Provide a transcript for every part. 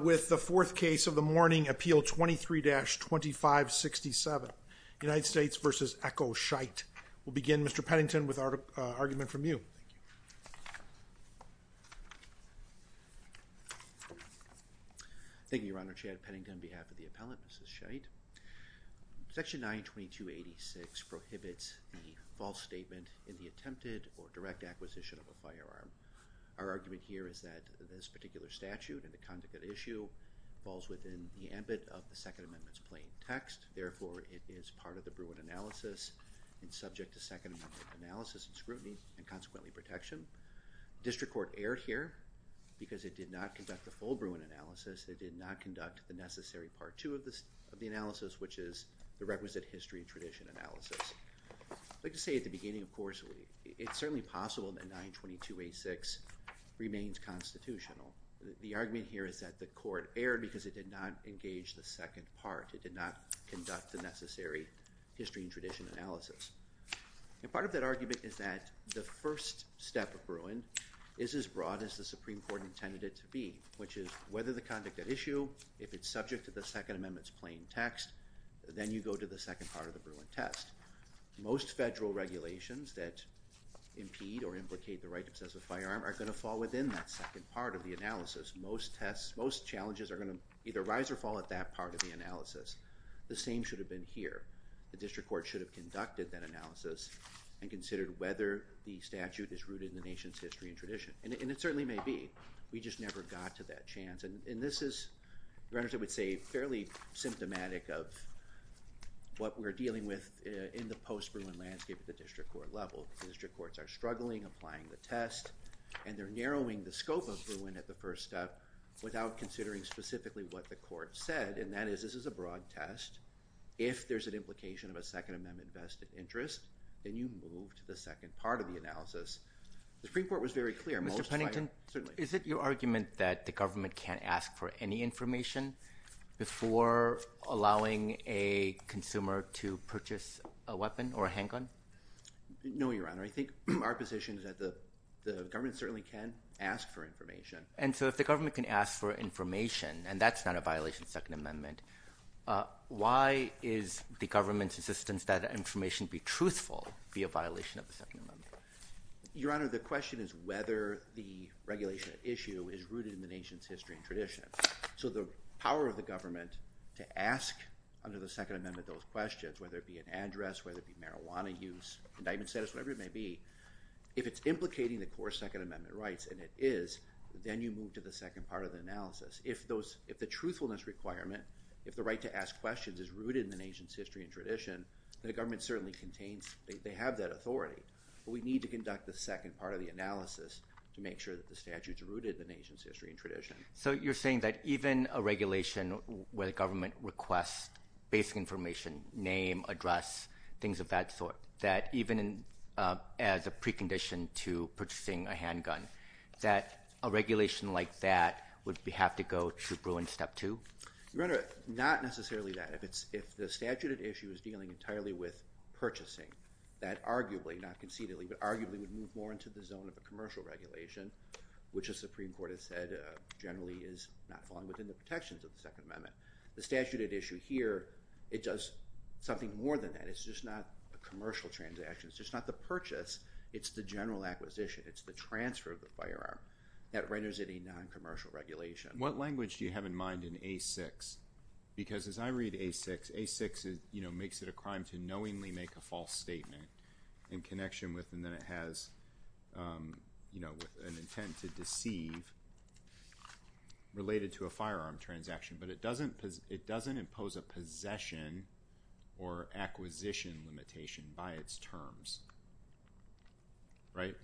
With the fourth case of the morning, appeal 23-2567, United States v. Echo Scheidt. We'll begin, Mr. Pennington, with our argument from you. Thank you, Your Honor. Chad Pennington on behalf of the appellant, Mrs. Scheidt. Section 92286 prohibits the false statement in the attempted or direct acquisition of a firearm. Our argument here is that this particular statute and the conduct at issue falls within the ambit of the Second Amendment's plain text. Therefore, it is part of the Bruin analysis and subject to Second Amendment analysis and scrutiny and consequently protection. District Court erred here because it did not conduct the full Bruin analysis. It did not conduct the necessary part two of the analysis, which is the requisite history and tradition analysis. I'd like to say at the beginning, of course, it's certainly possible that 92286 remains constitutional. The argument here is that the court erred because it did not engage the second part. It did not conduct the necessary history and tradition analysis. And part of that argument is that the first step of Bruin is as broad as the Supreme Court intended it to be, which is whether the conduct at issue, if it's subject to the Second Amendment's plain text, then you go to the second part of the Bruin test. Most federal regulations that impede or implicate the right to possess a firearm are going to fall within that second part of the analysis. Most tests, most challenges are going to either rise or fall at that part of the analysis. The same should have been here. The district court should have conducted that analysis and considered whether the statute is rooted in the nation's history and tradition. And it certainly may be. We just never got to that chance. And this is, I would say, fairly symptomatic of what we're dealing with in the post-Bruin landscape at the district court level. The district courts are struggling, applying the test, and they're narrowing the scope of Bruin at the first step without considering specifically what the court said. And that is, this is a broad test. If there's an implication of a Second Amendment vested interest, then you move to the second part of the analysis. The Supreme Court was very clear. Mr. Pennington, is it your argument that the government can't ask for any information before allowing a consumer to purchase a weapon or a handgun? No, Your Honor. I think our position is that the government certainly can ask for information. And so if the government can ask for information, and that's not a violation of the Second Amendment, why is the government's insistence that information be truthful be a violation of the Second Amendment? Your Honor, the question is whether the regulation at issue is rooted in the nation's history and tradition. So the power of the government to ask under the Second Amendment those questions, whether it be an address, whether it be marijuana use, indictment status, whatever it may be, if it's implicating the core Second Amendment rights, and it is, then you move to the second part of the analysis. If the truthfulness requirement, if the right to ask questions is rooted in the nation's history and tradition, then the government certainly contains, they have that authority. But we need to conduct the second part of the analysis to make sure that the statute's rooted in the nation's history and tradition. So you're saying that even a regulation where the government requests basic information, name, address, things of that sort, that even as a precondition to purchasing a handgun, that a regulation like that would have to go to Bruin Step 2? Your Honor, not necessarily that. If the statute at issue is dealing entirely with purchasing, that arguably, not concededly, but arguably would move more into the zone of a commercial regulation, which the Supreme Court has said generally is not falling within the protections of the Second Amendment. The statute at issue here, it does something more than that. It's just not a commercial transaction. It's just not the purchase. It's the general acquisition. It's the transfer of the firearm that renders it a noncommercial regulation. What language do you have in mind in A6? Because as I read A6, A6 makes it a crime to knowingly make a false statement in connection with, and then it has an intent to deceive related to a firearm transaction. But it doesn't impose a possession or acquisition limitation by its terms. Right?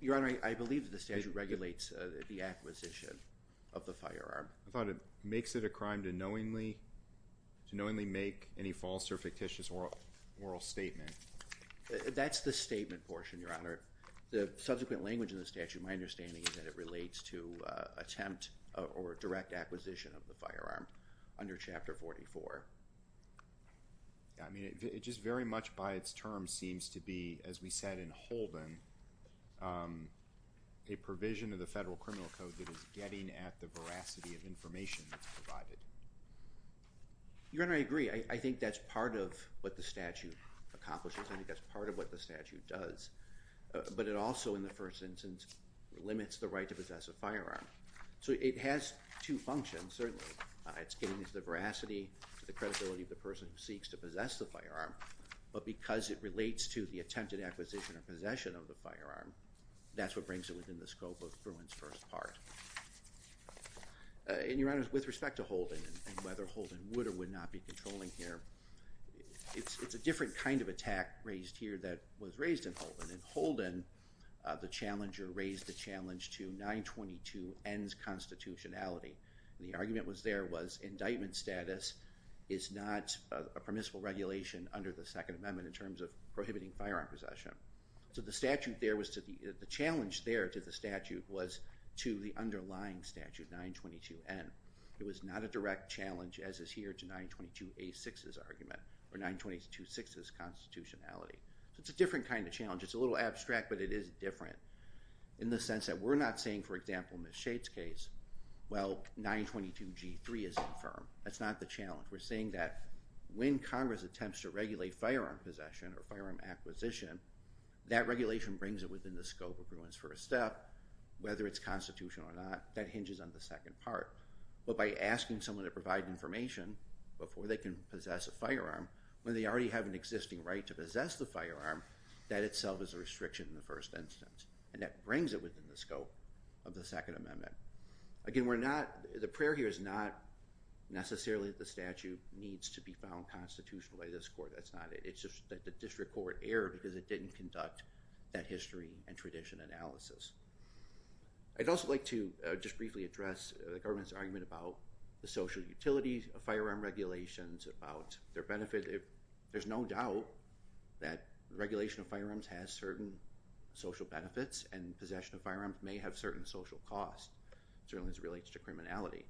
Your Honor, I believe that the statute regulates the acquisition of the firearm. I thought it makes it a crime to knowingly make any false or fictitious oral statement. That's the statement portion, Your Honor. The subsequent language in the statute, my understanding, is that it relates to attempt or direct acquisition of the firearm under Chapter 44. I mean, it just very much by its terms seems to be, as we said in Holden, a provision of the Federal Criminal Code that is getting at the veracity of information that's provided. Your Honor, I agree. I think that's part of what the statute accomplishes. I think that's part of what the statute does. But it also, in the first instance, limits the right to possess a firearm. So it has two functions, certainly. It's getting at the veracity, the credibility of the person who seeks to possess the firearm. But because it relates to the attempted acquisition or possession of the firearm, that's what brings it within the scope of Bruin's first part. And, Your Honor, with respect to Holden and whether Holden would or would not be controlling here, it's a different kind of attack raised here that was raised in Holden. In Holden, the challenger raised the challenge to 922N's constitutionality. The argument was there was indictment status is not a permissible regulation under the Second Amendment in terms of prohibiting firearm possession. So the statute there was to the challenge there to the statute was to the underlying statute, 922N. It was not a direct challenge, as is here, to 922A6's argument or 9226's constitutionality. So it's a different kind of challenge. It's a little abstract, but it is different in the sense that we're not saying, for example, in Ms. Shade's case, well, 922G3 is confirmed. That's not the challenge. We're saying that when Congress attempts to regulate firearm possession or firearm acquisition, that regulation brings it within the scope of Bruin's first step, whether it's constitutional or not. That hinges on the second part. But by asking someone to provide information before they can possess a firearm, when they already have an existing right to possess the firearm, that itself is a restriction in the first instance. And that brings it within the scope of the Second Amendment. Again, the prayer here is not necessarily that the statute needs to be found constitutional by this court. It's just that the district court erred because it didn't conduct that history and tradition analysis. I'd also like to just briefly address the government's argument about the social utilities of firearm regulations, about their benefit. There's no doubt that regulation of firearms has certain social benefits and possession of firearms may have certain social costs, certainly as it relates to criminality.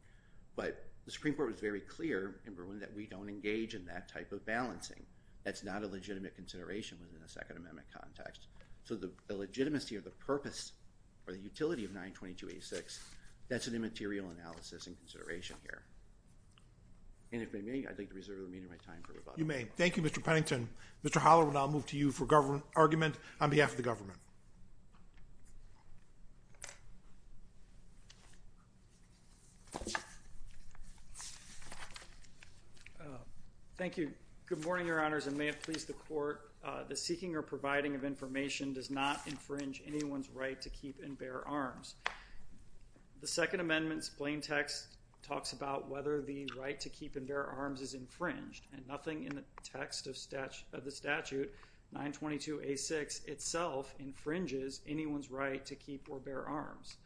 But the Supreme Court was very clear in Bruin that we don't engage in that type of balancing. That's not a legitimate consideration within the Second Amendment context. So the legitimacy of the purpose or the utility of 922-86, that's an immaterial analysis and consideration here. And if I may, I'd like to reserve the remainder of my time for rebuttal. You may. Thank you, Mr. Pennington. Mr. Holler will now move to you for argument on behalf of the government. Thank you. Good morning, Your Honors, and may it please the Court. The seeking or providing of information does not infringe anyone's right to keep and bear arms. The Second Amendment's plain text talks about whether the right to keep and bear arms is infringed, and nothing in the text of the statute, 922-86, itself infringes anyone's right to keep or bear arms.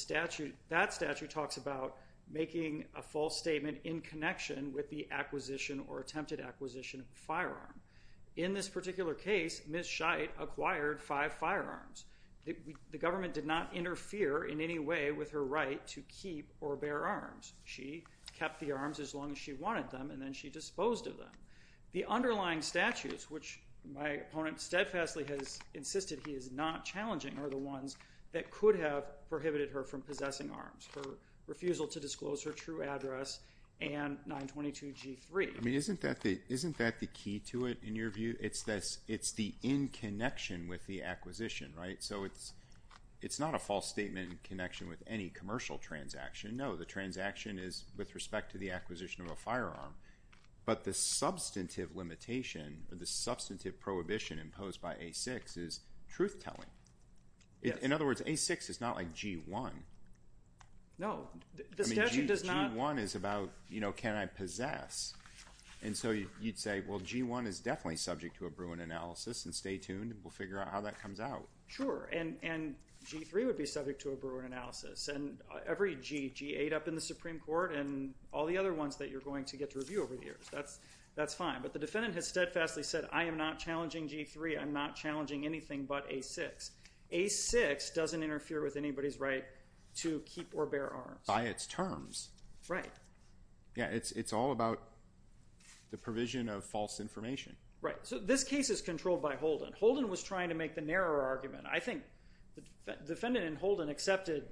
That statute talks about making a false statement in connection with the acquisition or attempted acquisition of a firearm. In this particular case, Ms. Scheidt acquired five firearms. The government did not interfere in any way with her right to keep or bear arms. She kept the arms as long as she wanted them, and then she disposed of them. The underlying statutes, which my opponent steadfastly has insisted he is not challenging, are the ones that could have prohibited her from possessing arms, her refusal to disclose her true address and 922-G3. I mean, isn't that the key to it, in your view? It's the in connection with the acquisition, right? So it's not a false statement in connection with any commercial transaction. No, the transaction is with respect to the acquisition of a firearm, but the substantive limitation or the substantive prohibition imposed by A-6 is truth-telling. In other words, A-6 is not like G-1. No, the statute does not. G-1 is about, you know, can I possess? And so you'd say, well, G-1 is definitely subject to a Bruin analysis, and stay tuned. We'll figure out how that comes out. Sure, and G-3 would be subject to a Bruin analysis. And every G, G-8 up in the Supreme Court and all the other ones that you're going to get to review over the years, that's fine. But the defendant has steadfastly said, I am not challenging G-3. I'm not challenging anything but A-6. A-6 doesn't interfere with anybody's right to keep or bear arms. By its terms. Right. Yeah, it's all about the provision of false information. Right. So this case is controlled by Holden. Holden was trying to make the narrower argument. I think the defendant in Holden accepted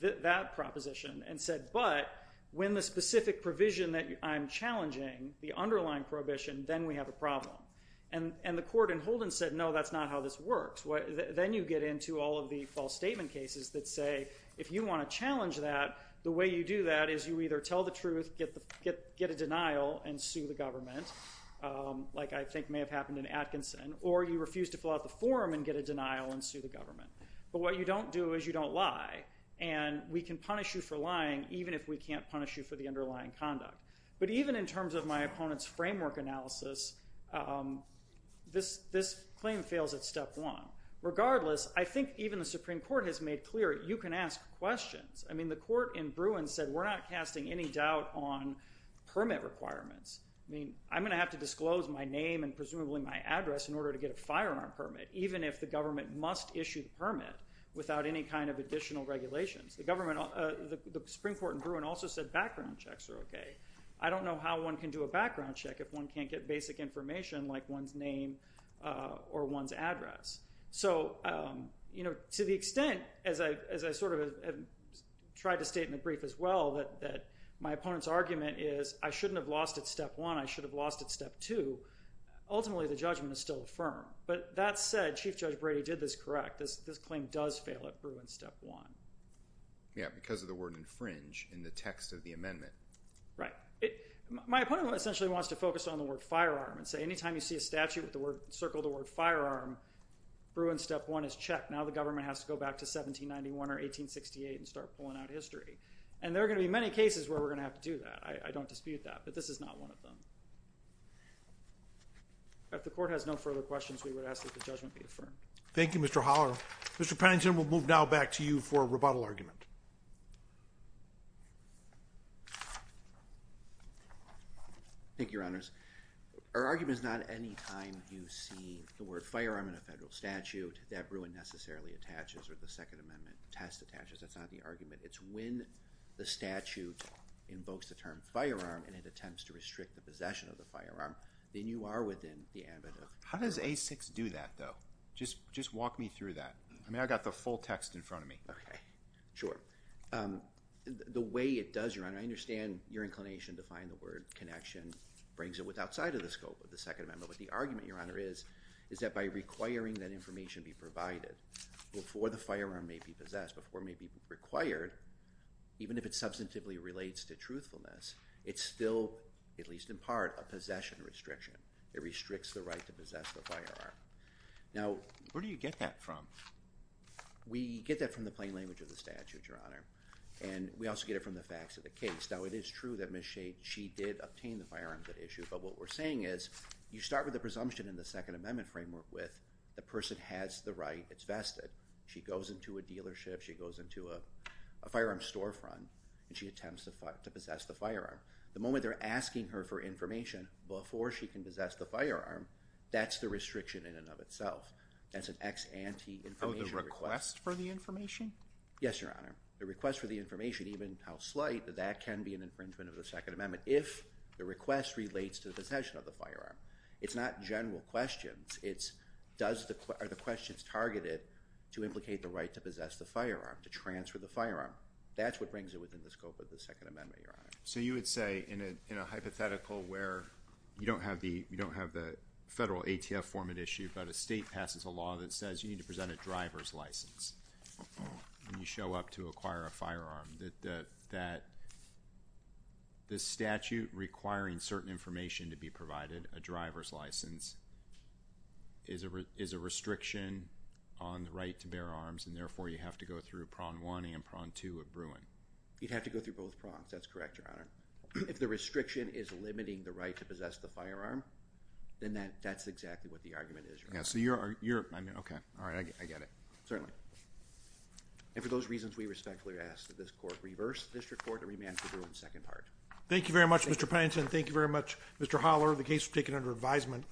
that proposition and said, but when the specific provision that I'm challenging, the underlying prohibition, then we have a problem. And the court in Holden said, no, that's not how this works. Then you get into all of the false statement cases that say, if you want to challenge that, the way you do that is you either tell the truth, get a denial, and sue the government, like I think may have happened in Atkinson, or you refuse to fill out the form and get a denial and sue the government. But what you don't do is you don't lie. And we can punish you for lying even if we can't punish you for the underlying conduct. But even in terms of my opponent's framework analysis, this claim fails at step one. Regardless, I think even the Supreme Court has made clear you can ask questions. I mean, the court in Bruin said we're not casting any doubt on permit requirements. I mean, I'm going to have to disclose my name and presumably my address in order to get a firearm permit, even if the government must issue the permit without any kind of additional regulations. The Supreme Court in Bruin also said background checks are okay. I don't know how one can do a background check if one can't get basic information like one's name or one's address. So, you know, to the extent, as I sort of tried to state in the brief as well, that my opponent's argument is I shouldn't have lost at step one, I should have lost at step two, ultimately the judgment is still affirmed. But that said, Chief Judge Brady did this correct. This claim does fail at Bruin step one. Yeah, because of the word infringe in the text of the amendment. Right. My opponent essentially wants to focus on the word firearm and say any time you see a statute with the word, circle the word firearm, Bruin step one is checked. Now the government has to go back to 1791 or 1868 and start pulling out history. And there are going to be many cases where we're going to have to do that. I don't dispute that. But this is not one of them. If the court has no further questions, we would ask that the judgment be affirmed. Thank you, Mr. Holler. Mr. Pennington, we'll move now back to you for a rebuttal argument. Thank you, Your Honors. Our argument is not any time you see the word firearm in a federal statute that Bruin necessarily attaches or the Second Amendment test attaches. That's not the argument. It's when the statute invokes the term firearm and it attempts to restrict the possession of the firearm, then you are within the ambit of the court. How does A6 do that, though? Just walk me through that. I mean, I've got the full text in front of me. Okay. Sure. The way it does, Your Honor, I understand your inclination to find the word connection, brings it outside of the scope of the Second Amendment. But the argument, Your Honor, is that by requiring that information be provided before the firearm may be possessed, before it may be required, even if it substantively relates to truthfulness, it's still, at least in part, a possession restriction. It restricts the right to possess the firearm. Now, where do you get that from? We get that from the plain language of the statute, Your Honor, and we also get it from the facts of the case. Now, it is true that Ms. Shade, she did obtain the firearms at issue, but what we're saying is you start with the presumption in the Second Amendment framework with the person has the right. It's vested. She goes into a dealership. She goes into a firearm storefront, and she attempts to possess the firearm. The moment they're asking her for information before she can possess the firearm, that's the restriction in and of itself. That's an ex ante information request. Oh, the request for the information? Yes, Your Honor. The request for the information, even how slight, that that can be an infringement of the Second Amendment if the request relates to the possession of the firearm. It's not general questions. It's are the questions targeted to implicate the right to possess the firearm, to transfer the firearm. That's what brings it within the scope of the Second Amendment, Your Honor. So you would say in a hypothetical where you don't have the federal ATF form at issue, but a state passes a law that says you need to present a driver's license when you show up to acquire a firearm, that the statute requiring certain information to be provided, a driver's license, is a restriction on the right to bear arms, and therefore, you have to go through Prong 1 and Prong 2 at Bruin. You'd have to go through both Prongs, that's correct, Your Honor. If the restriction is limiting the right to possess the firearm, then that's exactly what the argument is. Yeah, so you're, I mean, okay, all right, I get it. Certainly. And for those reasons, we respectfully ask that this court reverse the district court and remand to Bruin second part. Thank you very much, Mr. Paynes, and thank you very much, Mr. Holler. The case is taken under advisement.